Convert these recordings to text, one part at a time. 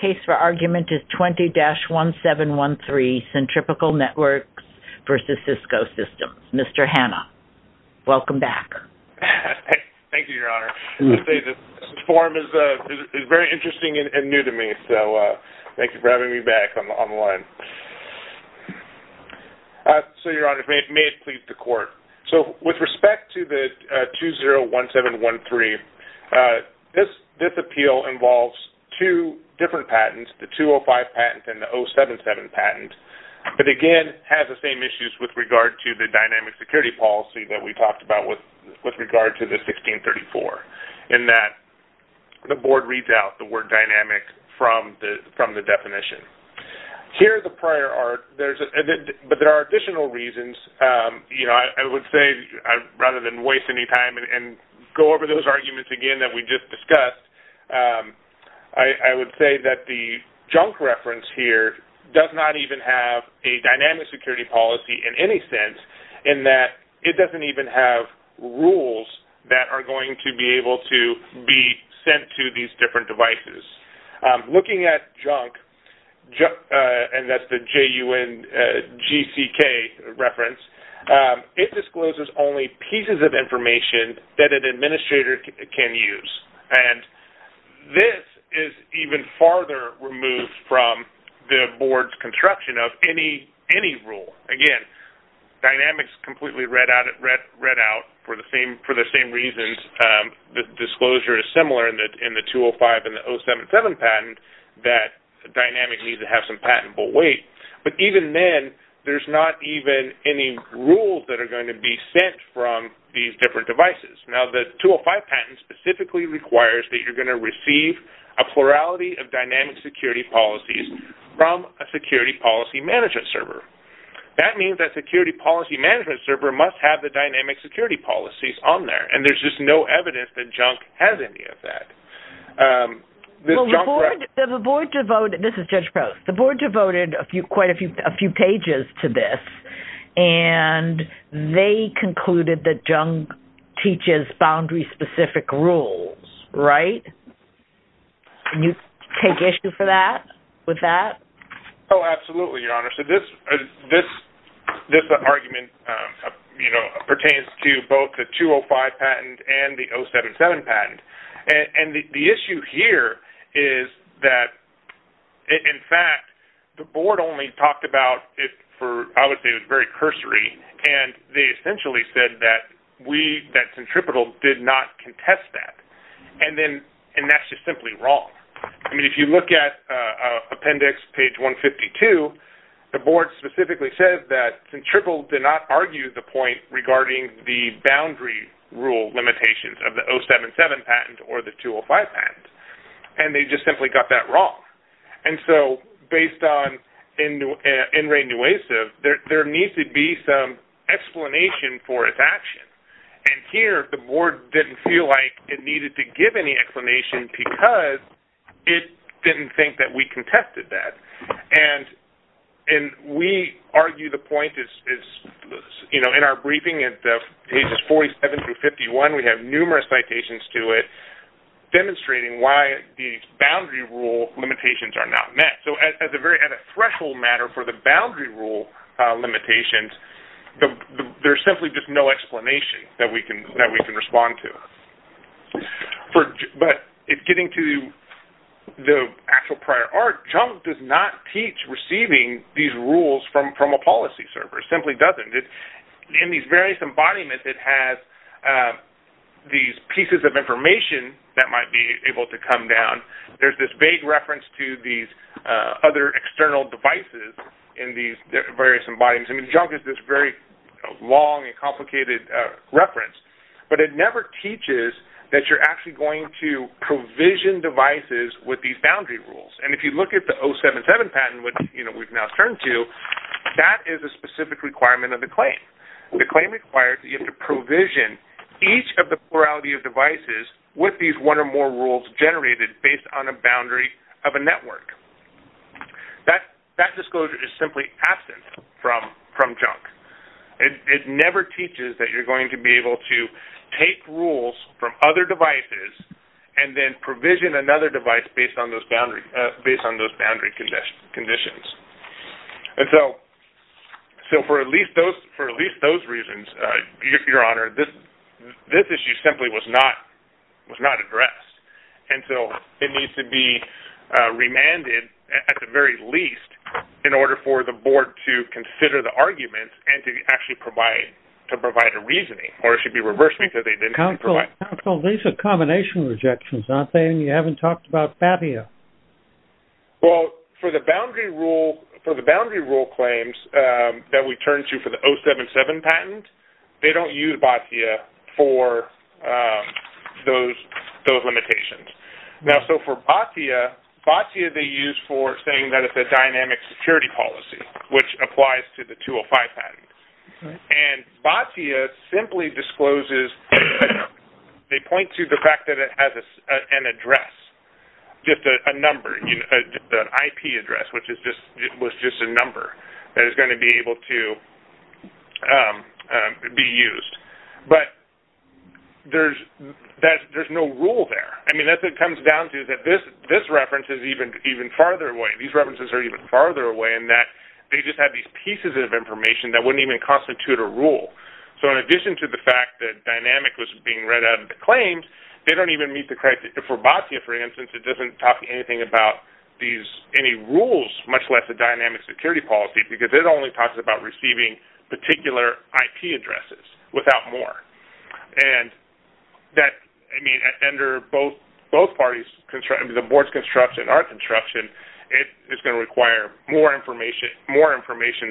case for argument is 20-1713, Centripetal Networks versus Cisco Systems. Mr. Hanna, welcome back. Thank you, Your Honor. This forum is very interesting and new to me, so thank you for having me back on the line. So, Your Honor, may it please the Court. So, with respect to the 20-1713, this appeal involves two different patents, the 205 patent and the 077 patent. But again, it has the same issues with regard to the dynamic security policy that we talked about with regard to the 1634, in that the Board reads out the word dynamic from the rather than waste any time and go over those arguments again that we just discussed. I would say that the junk reference here does not even have a dynamic security policy in any sense, in that it doesn't even have rules that are going to be able to be sent to these different devices. Looking at junk, and that's the J-U-N-G-C-K reference, it discloses only pieces of information that an administrator can use. And this is even farther removed from the Board's construction of any rule. Again, dynamics completely read out for the same reasons. The disclosure is similar in the 205 and the 077 patent, that dynamic needs to have some patentable weight. But even then, there's not even any rules that are going to be sent from these different devices. Now, the 205 patent specifically requires that you're going to receive a plurality of dynamic security policies from a security policy management server. That means that security policy management server must have the dynamic security policies on there, and there's just no evidence that junk has any of that. This is Judge Post. The Board devoted quite a few pages to this, and they concluded that junk teaches boundary-specific rules, right? Can you take issue for that, with that? Oh, absolutely, Your Honor. So this argument pertains to both the 205 patent and the 077 patent. And the issue here is that, in fact, the Board only talked about it for, I would say, it was very cursory, and they essentially said that we, that Centripetal, did not contest that. And that's just simply wrong. I mean, if you look at appendix page 152, the Board specifically said that Centripetal did not argue the point regarding the boundary rule limitations of the 077 patent or the 205 patent, and they just simply got that wrong. And so, based on NRAINUACIV, there needs to be some explanation for its action. And here, the Board didn't feel like it needed to give any explanation because it didn't think that we contested that. And we argue the point is, you know, in our briefing at pages 47 through 51, we have numerous citations to it demonstrating why the boundary rule limitations are not met. So at a threshold matter for the boundary rule limitations, there's simply just no explanation that we can respond to. But getting to the actual prior art, Junk does not teach receiving these rules from a policy server. It simply doesn't. In these various embodiments, it has these pieces of information that might be able to come down. There's this vague reference to these other external devices in these various embodiments. I mean, Junk is this very long and complicated reference, but it never teaches that you're actually going to provision devices with these boundary rules. And if you look at the 077 patent, which, you know, we've now turned to, that is a specific requirement of the claim. The claim requires that you have to provision each of the plurality of devices with these one or more rules generated based on a boundary of a network. That disclosure is simply absent from Junk. It never teaches that you're going to be able to take rules from other devices and then provision another device based on those boundary conditions. And so for at least those reasons, Your Honor, this issue simply was not addressed. And so it needs to be remanded, at the very least, in order for the board to consider the arguments and to actually provide a reasoning. Or it should be reversed because they didn't provide... Counsel, these are combination rejections, aren't they? And you haven't talked about Batia. Well, for the boundary rule claims that we turn to for the 077 patent, they don't use Batia for those limitations. Now, so for Batia, Batia they use for saying that it's a dynamic security policy, which applies to the 205 patent. And Batia simply discloses, they point to the fact that it has an address, just a number, an IP address, which was just a reference to be used. But there's no rule there. I mean, that's what it comes down to, that this reference is even farther away. These references are even farther away in that they just have these pieces of information that wouldn't even constitute a rule. So in addition to the fact that dynamic was being read out of the claims, they don't even meet the criteria. For Batia, for instance, it doesn't talk anything about any rules, much less a dynamic security policy, because it only talks about receiving particular IP addresses without more. And that, I mean, under both parties, the board's construction, our construction, it's going to require more information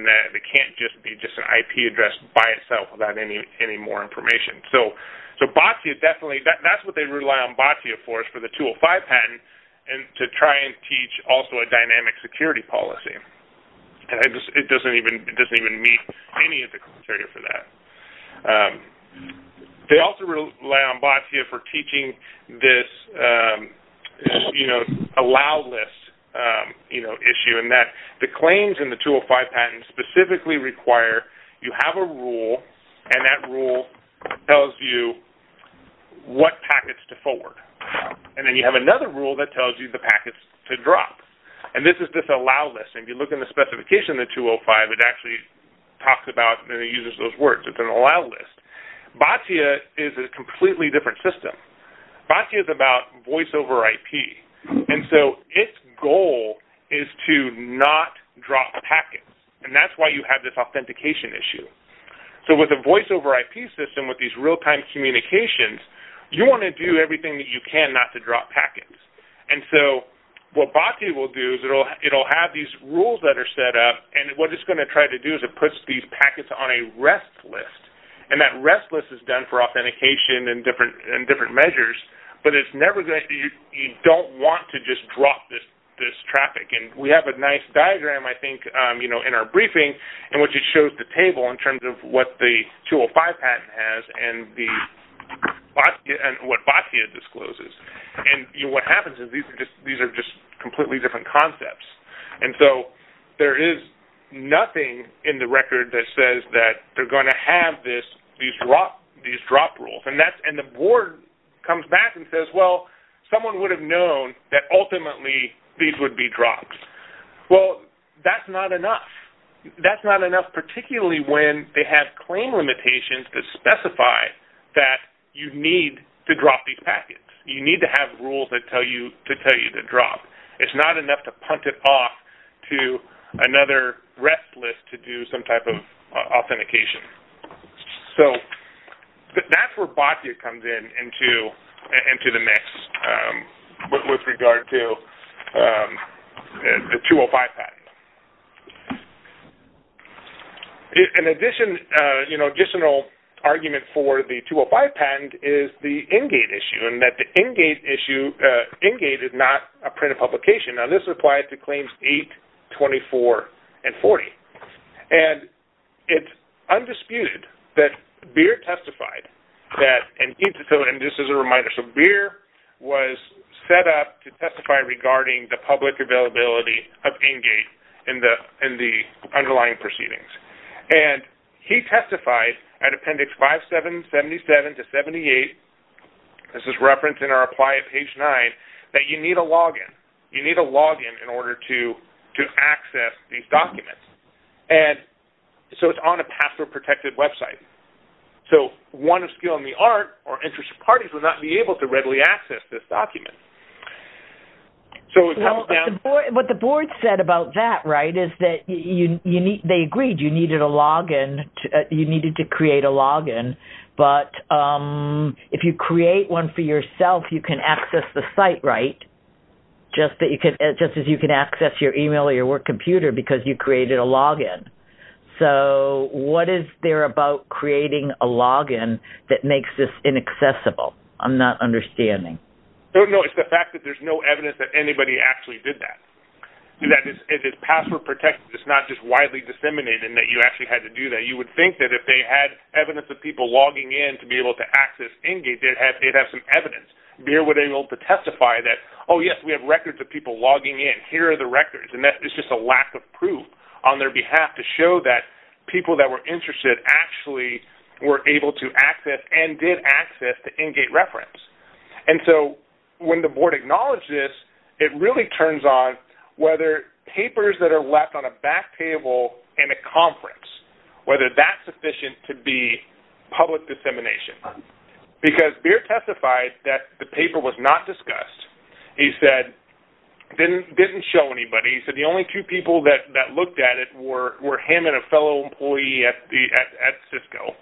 that it can't just be just an IP address by itself without any more information. So Batia definitely, that's what they rely on Batia for, is for the 205 patent to try and teach also a dynamic security policy. And it doesn't even meet any of the criteria for that. They also rely on Batia for teaching this allow list issue in that the claims in the 205 patent specifically require you have a rule, and that rule tells you what packets to forward. And then you have another rule that tells you the packets to drop. And this is this allow list. And if you look in the specification of the 205, it actually talks about and it uses those words. It's an allow list. Batia is a completely different system. Batia is about voice over IP. And so its goal is to not drop packets. And that's why you have this authentication issue. So with a voice over IP system, with these real-time communications, you want to do everything you can not to drop packets. And so what Batia will do is it will have these rules that are set up. And what it's going to try to do is it puts these packets on a rest list. And that rest list is done for authentication and different measures. But you don't want to just drop this traffic. And we have a nice diagram, I think, in our briefing in which it shows the table in terms of what the 205 patent has and what Batia discloses. And what happens is these are just completely different concepts. And so there is nothing in the record that says that they're going to have these drop rules. And the board comes back and says, well, someone would have known that ultimately these would be drops. Well, that's not enough. That's not enough particularly when they have claim limitations that specify that you need to drop these packets. You need to have rules that tell you to tell you to drop. It's not enough to punt it off to another rest list to do some type authentication. So that's where Batia comes into the mix with regard to the 205 patent. An additional argument for the 205 patent is the Engate issue and that the Engate is not a printed publication. Now, this applies to Claims 8, 24, and 40. And it's undisputed that Beer testified that, and just as a reminder, so Beer was set up to testify regarding the public availability of Engate in the underlying proceedings. And he testified at Appendix 577 to 78, this is referenced in our apply at page 9, that you need a login. You need a login in order to access these documents. And so it's on a password-protected website. So one of skill in the art or interested parties would not be able to readily access this document. So what the board said about that, right, is that they agreed you needed to create a login. But if you create one for yourself, you can access the site, right, just as you can access your email or your work computer because you created a login. So what is there about creating a login that makes this inaccessible? I'm not understanding. No, it's the fact that there's no evidence that anybody actually did that. That is password-protected. It's not just widely disseminated and that you actually had to do that. You would think that if they had evidence of people logging in to be able to access Engate, they'd have some evidence. They would be able to testify that, oh, yes, we have records of people logging in. Here are the records. And that is just a lack of proof on their behalf to show that people that were interested actually were able to access and did access the Engate reference. And so when the board acknowledged this, it really turns on papers that are left on a back table in a conference, whether that's sufficient to be public dissemination. Because Beer testified that the paper was not discussed. He said, didn't show anybody. He said the only two people that looked at it were him and a fellow employee at Cisco.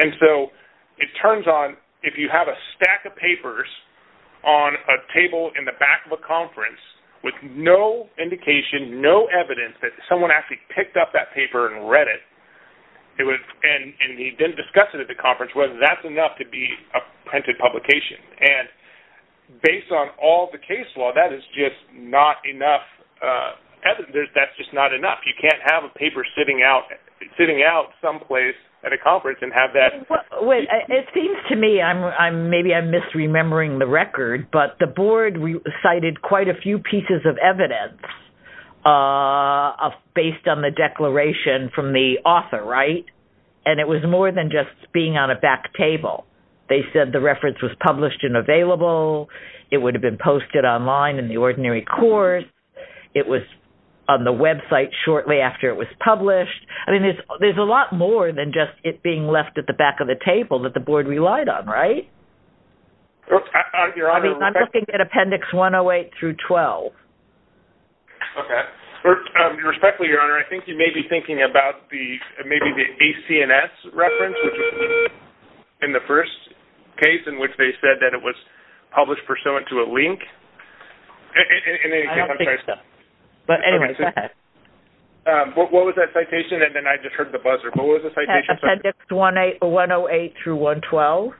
And so it turns on if you have a stack of papers on a table in the back of a conference with no indication, no evidence that someone actually picked up that paper and read it. And he didn't discuss it at the conference, whether that's enough to be a printed publication. And based on all the case law, that is just not enough evidence. That's just not enough. You can't have a paper sitting out someplace at a conference and have that. It seems to me, maybe I'm misremembering the record, but the board cited quite a few pieces of evidence based on the declaration from the author. Right. And it was more than just being on a back table. They said the reference was published and available. It would have been posted online in the ordinary court. It was on the website shortly after it was published. I mean, there's a lot more than just it being left at the back of the table that the board relied on. Right. I mean, I'm looking at Appendix 108 through 12. Okay. Respectfully, Your Honor, I think you may be thinking about the maybe the ACNS reference, in the first case in which they said that it was published pursuant to a link. But anyway, what was that citation? And then I just heard the buzzer. Appendix 108 through 112.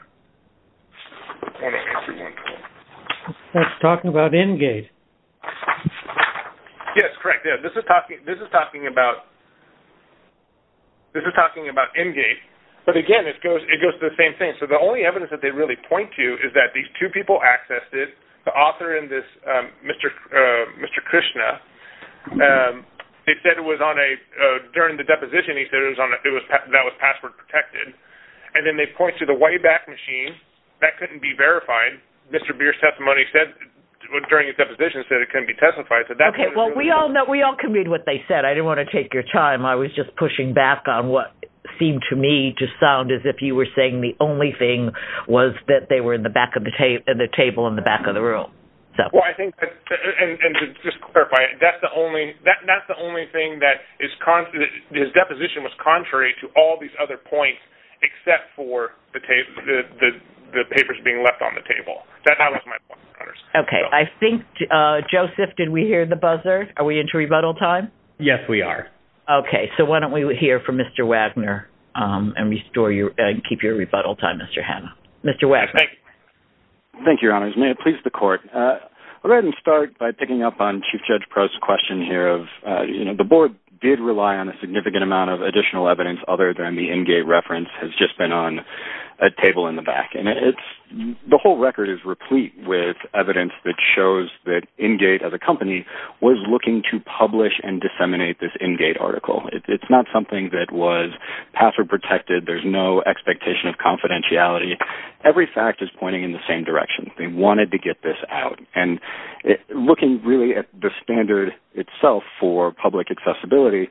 That's talking about Engate. Yes, correct. This is talking about Engate. But again, it goes to the same thing. So the only evidence that they really point to is that these two people accessed it. The author in this, Mr. Krishna, they said it was on a, during the deposition, he said it was on a, that was password protected. And then they point to the Wayback Machine. That couldn't be verified. Mr. Beer's testimony said, during his deposition, said it couldn't be testified. Okay, well, we all know, we all can read what they said. I didn't want to take your time. I was just pushing back on what seemed to me to sound as if you were saying the only thing was that they were in the back of the table in the back of the room. Well, I think, and just to clarify, that's the only, that's the only thing that is, his deposition was contrary to all these other points, except for the papers being left on the table. That was my point. Okay, I think, Joseph, did we hear the buzzer? Are we into rebuttal time? Yes, we are. Okay, so why don't we hear from Mr. Wagner and restore your, and keep your rebuttal time, Mr. Wagner. Thank you, Your Honors. May it please the Court. I'll go ahead and start by picking up on Chief Judge Prost's question here of, you know, the board did rely on a significant amount of additional evidence other than the Engate reference has just been on a table in the back. And it's, the whole record is replete with evidence that shows that Engate, as a company, was looking to publish and disseminate this Engate article. It's not something that was pass or protected. There's no expectation of confidentiality. Every fact is pointing in the same direction. They wanted to get this out. And looking really at the standard itself for public accessibility,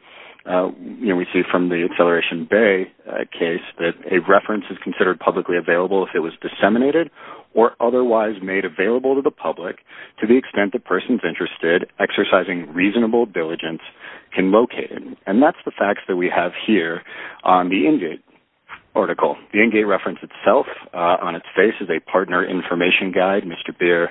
you know, we see from the Acceleration Bay case that a reference is considered publicly available if it was disseminated or otherwise made available to the public to the extent the person's interested, exercising reasonable diligence, can locate it. And that's the facts that we have here on the Engate article. The Engate reference itself on its face is a partner information guide. Mr. Beer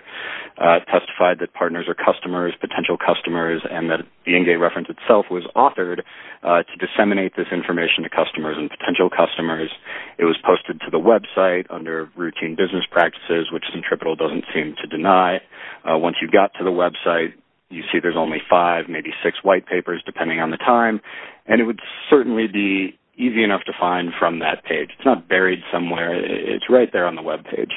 testified that partners are customers, potential customers, and that the Engate reference itself was authored to disseminate this information to customers and potential customers. It was posted to the website under routine business practices, which Centripetal doesn't seem to deny. Once you got to the website, you see there's only five, maybe six white papers depending on the time. And it would certainly be easy enough to find from that page. It's not buried somewhere. It's right there on the webpage.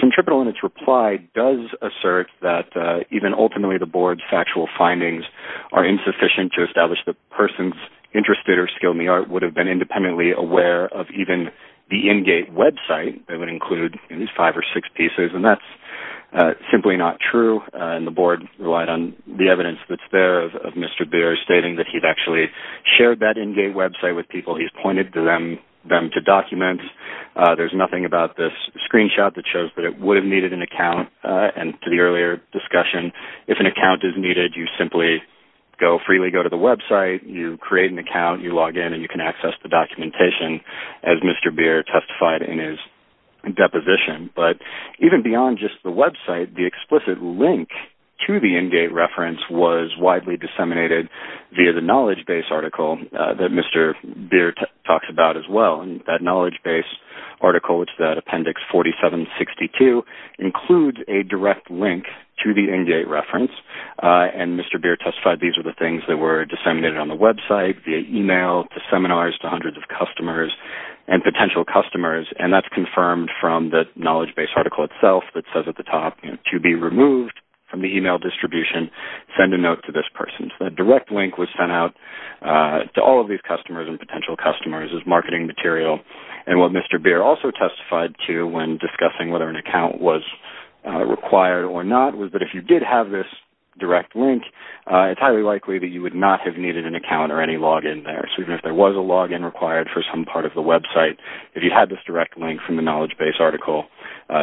Centripetal, in its reply, does assert that even ultimately the board's factual findings are insufficient to establish the person's interest or skill in the art would have been independently aware of even the Engate website that would include at least five or six pieces. And that's simply not true. And the board relied on the evidence that's there of Mr. Beer stating that he'd actually shared that Engate website with people. He's pointed to them to document. There's nothing about this screenshot that shows that it would have needed an account. And to the earlier discussion, if an account is needed, you simply go freely go to the website, you create an account, you log in, and you can access the documentation as Mr. Beer testified in his deposition. But even beyond just the website, the explicit link to the Engate reference was widely disseminated via the knowledge-based article that Mr. Beer talks about as well. And that knowledge-based article, it's that appendix 4762, includes a direct link to the Engate reference. And Mr. Beer testified these are the things that were disseminated on the website, via email, to seminars, to hundreds of customers, and potential customers. And that's confirmed from the knowledge-based article itself that at the top, to be removed from the email distribution, send a note to this person. So that direct link was sent out to all of these customers and potential customers as marketing material. And what Mr. Beer also testified to when discussing whether an account was required or not, was that if you did have this direct link, it's highly likely that you would not have needed an account or any login there. So even if there was a login required for some part of the website, if you had this direct link from the knowledge-based article,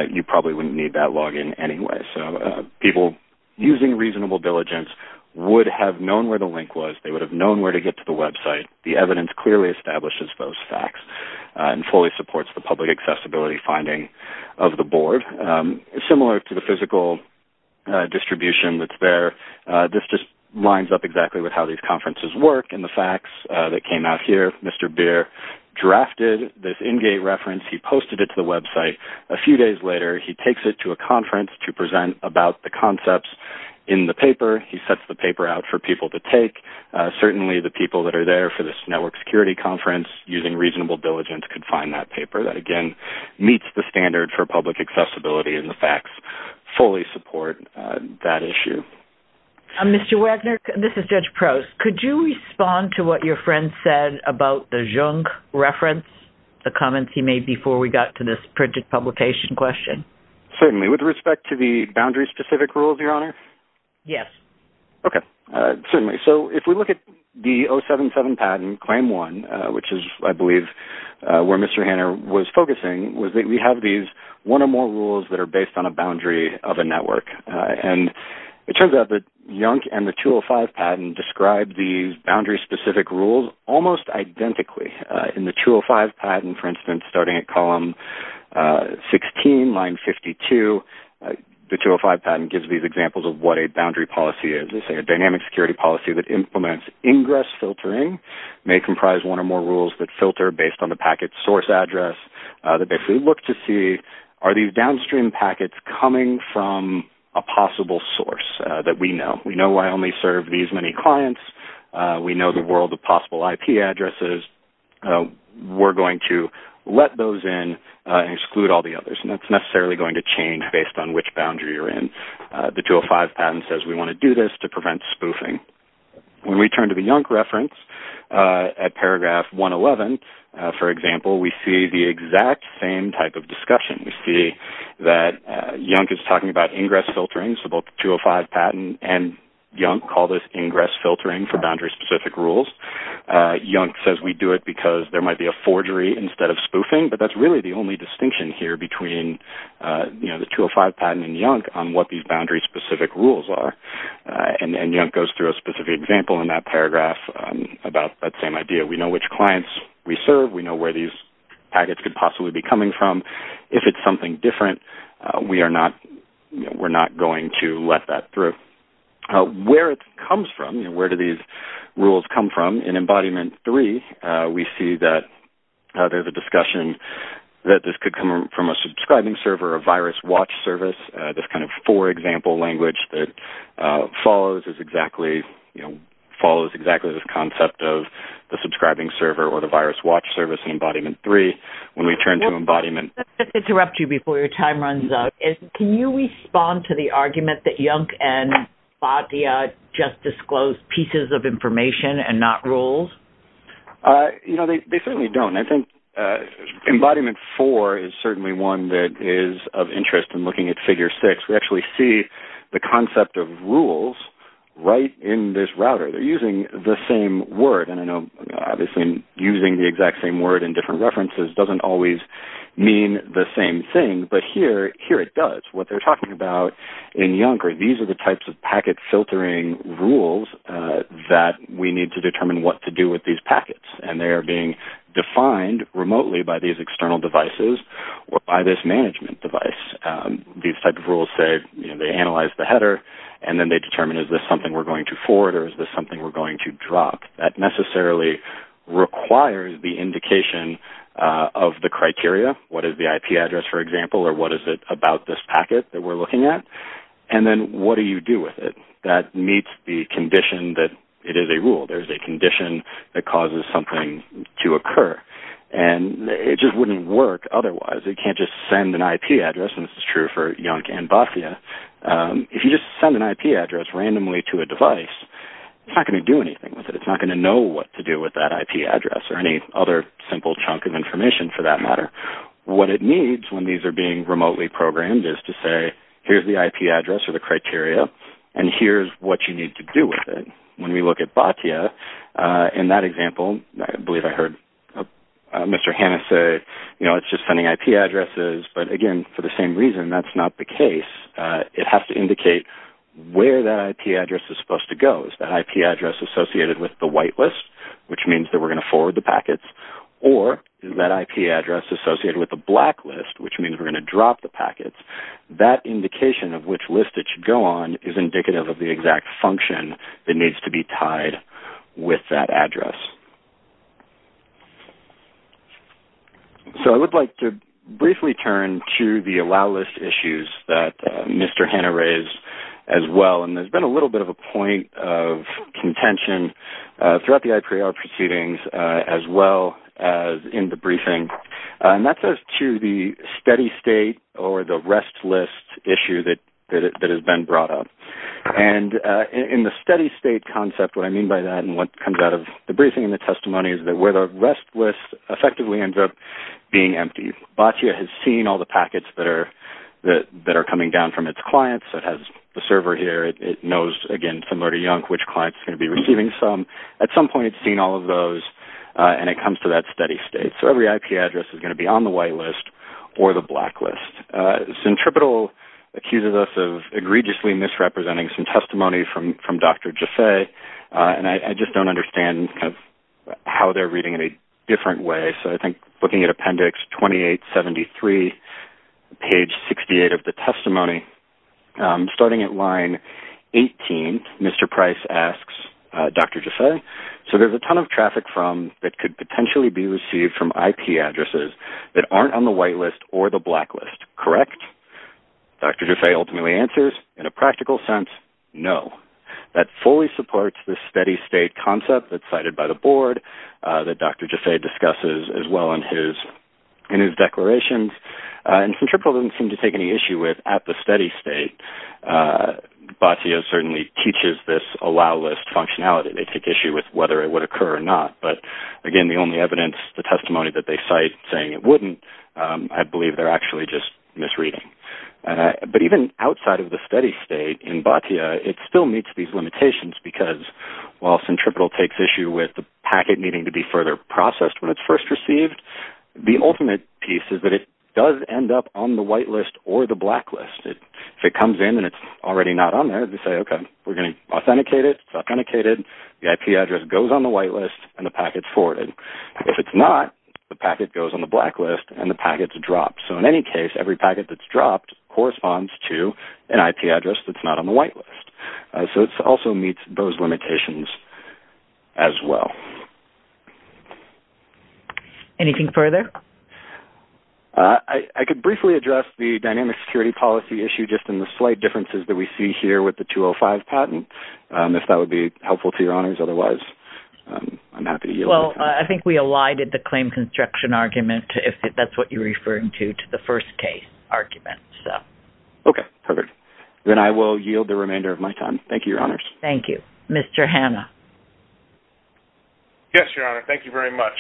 you probably wouldn't need that login anyway. So people using reasonable diligence would have known where the link was. They would have known where to get to the website. The evidence clearly establishes those facts and fully supports the public accessibility finding of the board. Similar to the physical distribution that's there, this just lines up exactly with how these conferences work and the facts that came out here. Mr. Beer drafted this Engate reference. He posted it to the website. A few days later, he takes it to a conference to present about the concepts in the paper. He sets the paper out for people to take. Certainly, the people that are there for this network security conference using reasonable diligence could find that paper that, again, meets the standard for public accessibility and the facts fully support that issue. Mr. Wagner, this is Judge Prost. Could you respond to what your friend said about the printed publication question? Certainly. With respect to the boundary-specific rules, Your Honor? Yes. Okay. Certainly. So if we look at the 077 patent, Claim 1, which is, I believe, where Mr. Hanner was focusing, we have these one or more rules that are based on a boundary of a network. It turns out that YUNC and the 205 patent describe these boundary-specific rules almost identically. In the 205 patent, for instance, starting at column 16, line 52, the 205 patent gives these examples of what a boundary policy is. It's a dynamic security policy that implements ingress filtering. It may comprise one or more rules that filter based on the packet source address that basically look to see, are these downstream packets coming from a possible source that we know? We know I only serve these many clients. We know the world of possible IP addresses. We're going to let those in and exclude all the others. That's necessarily going to change based on which boundary you're in. The 205 patent says we want to do this to prevent spoofing. When we turn to the YUNC reference at paragraph 111, for example, we see the exact same type of discussion. We see that YUNC is talking about ingress filtering, so both the 205 patent and YUNC call this ingress filtering for boundary-specific rules. YUNC says we do it because there might be a forgery instead of spoofing, but that's really the only distinction here between the 205 patent and YUNC on what these boundary-specific rules are. YUNC goes through a specific example in that paragraph about that same idea. We know which clients we serve. We know where these packets could possibly be coming from. If it's something different, we're not going to let that through. Where it comes from, where do these rules come from? In embodiment three, we see that there's a discussion that this could come from a subscribing server, a virus watch service, this kind of four-example language that follows exactly this concept of the subscribing server or the virus watch service in embodiment three. When we turn to embodiment... Let me interrupt you before your time runs out. Can you respond to the argument that YUNC and Boddia just disclosed pieces of information and not rules? You know, they certainly don't. I think embodiment four is certainly one that is of interest in looking at figure six. We actually see the concept of rules right in this router. They're using the same word. I know, obviously, using the exact same word in different references doesn't always mean the same thing, but here it does. What they're talking about in YUNC are these are the types of packet filtering rules that we need to determine what to do with these packets. They are being defined remotely by these external devices or by this management device. These type of rules say they analyze the header, and then they determine is this something we're going to forward or is this something we're going to drop. That necessarily requires the indication of the criteria. What is the IP address, for example, or what is it about this packet that we're looking at, and then what do you do with it? That meets the condition that it is a rule. There's a condition that causes something to occur, and it just wouldn't work otherwise. You can't just send an IP address, and this is true for YUNC and Boddia. If you just send an IP address randomly to a device, it's not going to do anything with it. It's not going to know what to do with that IP address or any other simple chunk of information, for that matter. What it needs when these are being remotely programmed is to say, here's the IP address or the criteria, and here's what you need to do with it. When we look at Boddia, in that example, I believe I heard Mr. Hanna say, you know, it's just sending IP addresses, but again, for the same reason, that's not the case. It has to indicate where that IP address is supposed to go. Is that IP address associated with the white list, which means that we're going to forward the packets, or is that IP address associated with the black list, which means we're going to drop the packets? That indication of which list it should go on is indicative of the exact function that needs to be tied with that Mr. Hanna raised as well. And there's been a little bit of a point of contention throughout the IPR proceedings as well as in the briefing. And that goes to the steady state or the rest list issue that has been brought up. And in the steady state concept, what I mean by that and what comes out of the briefing and the testimony is that where the rest list effectively ends up being empty. Boddia has seen all the packets that are coming down from its clients. It has the server here. It knows, again, from Lurdy Yonk which clients are going to be receiving some. At some point, it's seen all of those, and it comes to that steady state. So, every IP address is going to be on the white list or the black list. Centripetal accuses us of egregiously misrepresenting some testimony from Dr. Jaffe, and I just don't understand kind of how they're reading it a different way. So, I think looking at appendix 2873, page 68 of the testimony, starting at line 18, Mr. Price asks Dr. Jaffe, so there's a ton of traffic that could potentially be received from IP addresses that aren't on the white list or the black list, correct? Dr. Jaffe ultimately answers, in a practical sense, no. That fully supports the steady state concept that's cited by the board that Dr. Jaffe discusses as well in his declarations. And Centripetal doesn't seem to take any issue with at the steady state. Boddia certainly teaches this allow list functionality. They take issue with whether it would occur or not. But again, the only evidence, the testimony that they cite saying it wouldn't, I believe they're actually just misreading. But even outside of the steady state in Boddia, it still meets these limitations because while Centripetal takes issue with the packet needing to be further processed when it's first received, the ultimate piece is that it does end up on the white list or the black list. If it comes in and it's already not on there, they say, okay, we're going to authenticate it. It's authenticated. The IP address goes on the white list and the packet's forwarded. If it's not, the packet goes on the black list and the packet's dropped. So, in any case, every packet that's dropped corresponds to an IP address that's not on the white list. So, it also meets those limitations as well. Anything further? I could briefly address the dynamic security policy issue just in the slight differences that we see here with the 205 patent, if that would be helpful to your honors. Otherwise, I'm happy to yield. Well, I think we elided the argument. Okay. Perfect. Then I will yield the remainder of my time. Thank you, your honors. Thank you. Mr. Hanna. Yes, your honor. Thank you very much.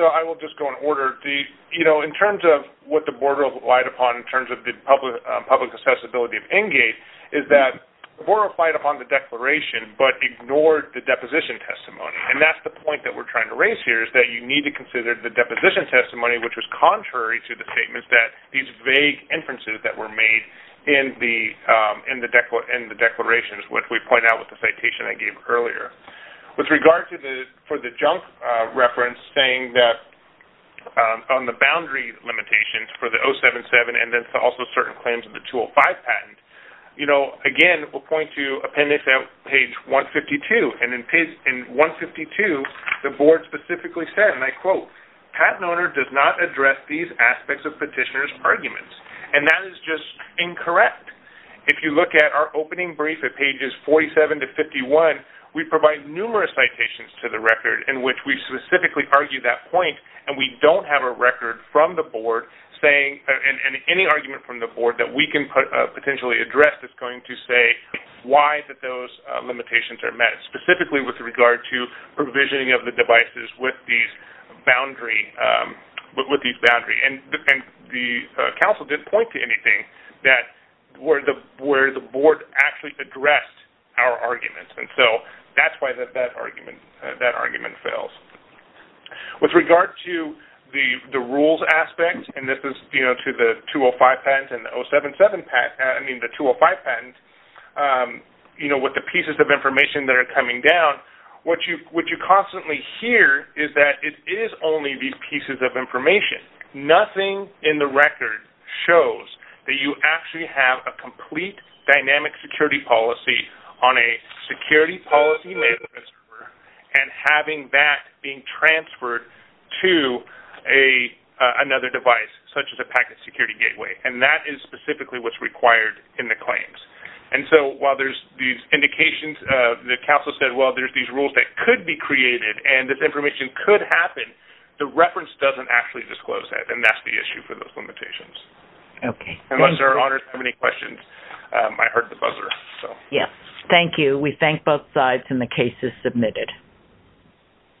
So, I will just go in order. In terms of what the board relied upon in terms of the public accessibility of NGATE is that the board relied upon the declaration but ignored the deposition testimony. And that's the point that we're trying to raise here is that you need to consider the deposition testimony, which was contrary to the statements that these vague inferences that were made in the declarations, which we point out with the citation I gave earlier. With regard to the junk reference saying that on the boundary limitations for the 077 and also certain claims of the 205 patent, again, we'll point to appendix page 152. And in page 152, the board specifically said, and I quote, patent owner does not address these aspects of petitioner's arguments. And that is just incorrect. If you look at our opening brief at pages 47 to 51, we provide numerous citations to the record in which we specifically argue that point. And we don't have a record from the board saying and any argument from the board that we can potentially address that's going to say why those limitations are met, specifically with regard to provisioning of the devices with these boundary. And the council didn't point to anything that where the board actually addressed our arguments. And so that's why that argument fails. With regard to the rules aspect, and this is to the 205 patent and the 077 patent, I mean the 205 patent, with the pieces of information that are coming down, what you constantly hear is that it is only these pieces of information. Nothing in the record shows that you actually have a complete dynamic security policy on a security policy and having that being transferred to another device, such as a packet security gateway. And that is specifically what's required in the claims. And so while there's these indications, the council said, there's these rules that could be created and this information could happen, the reference doesn't actually disclose that. And that's the issue for those limitations. Okay. Thank you. Unless there are other questions, I heard the buzzer. Yes. Thank you. We thank both sides and the case is submitted.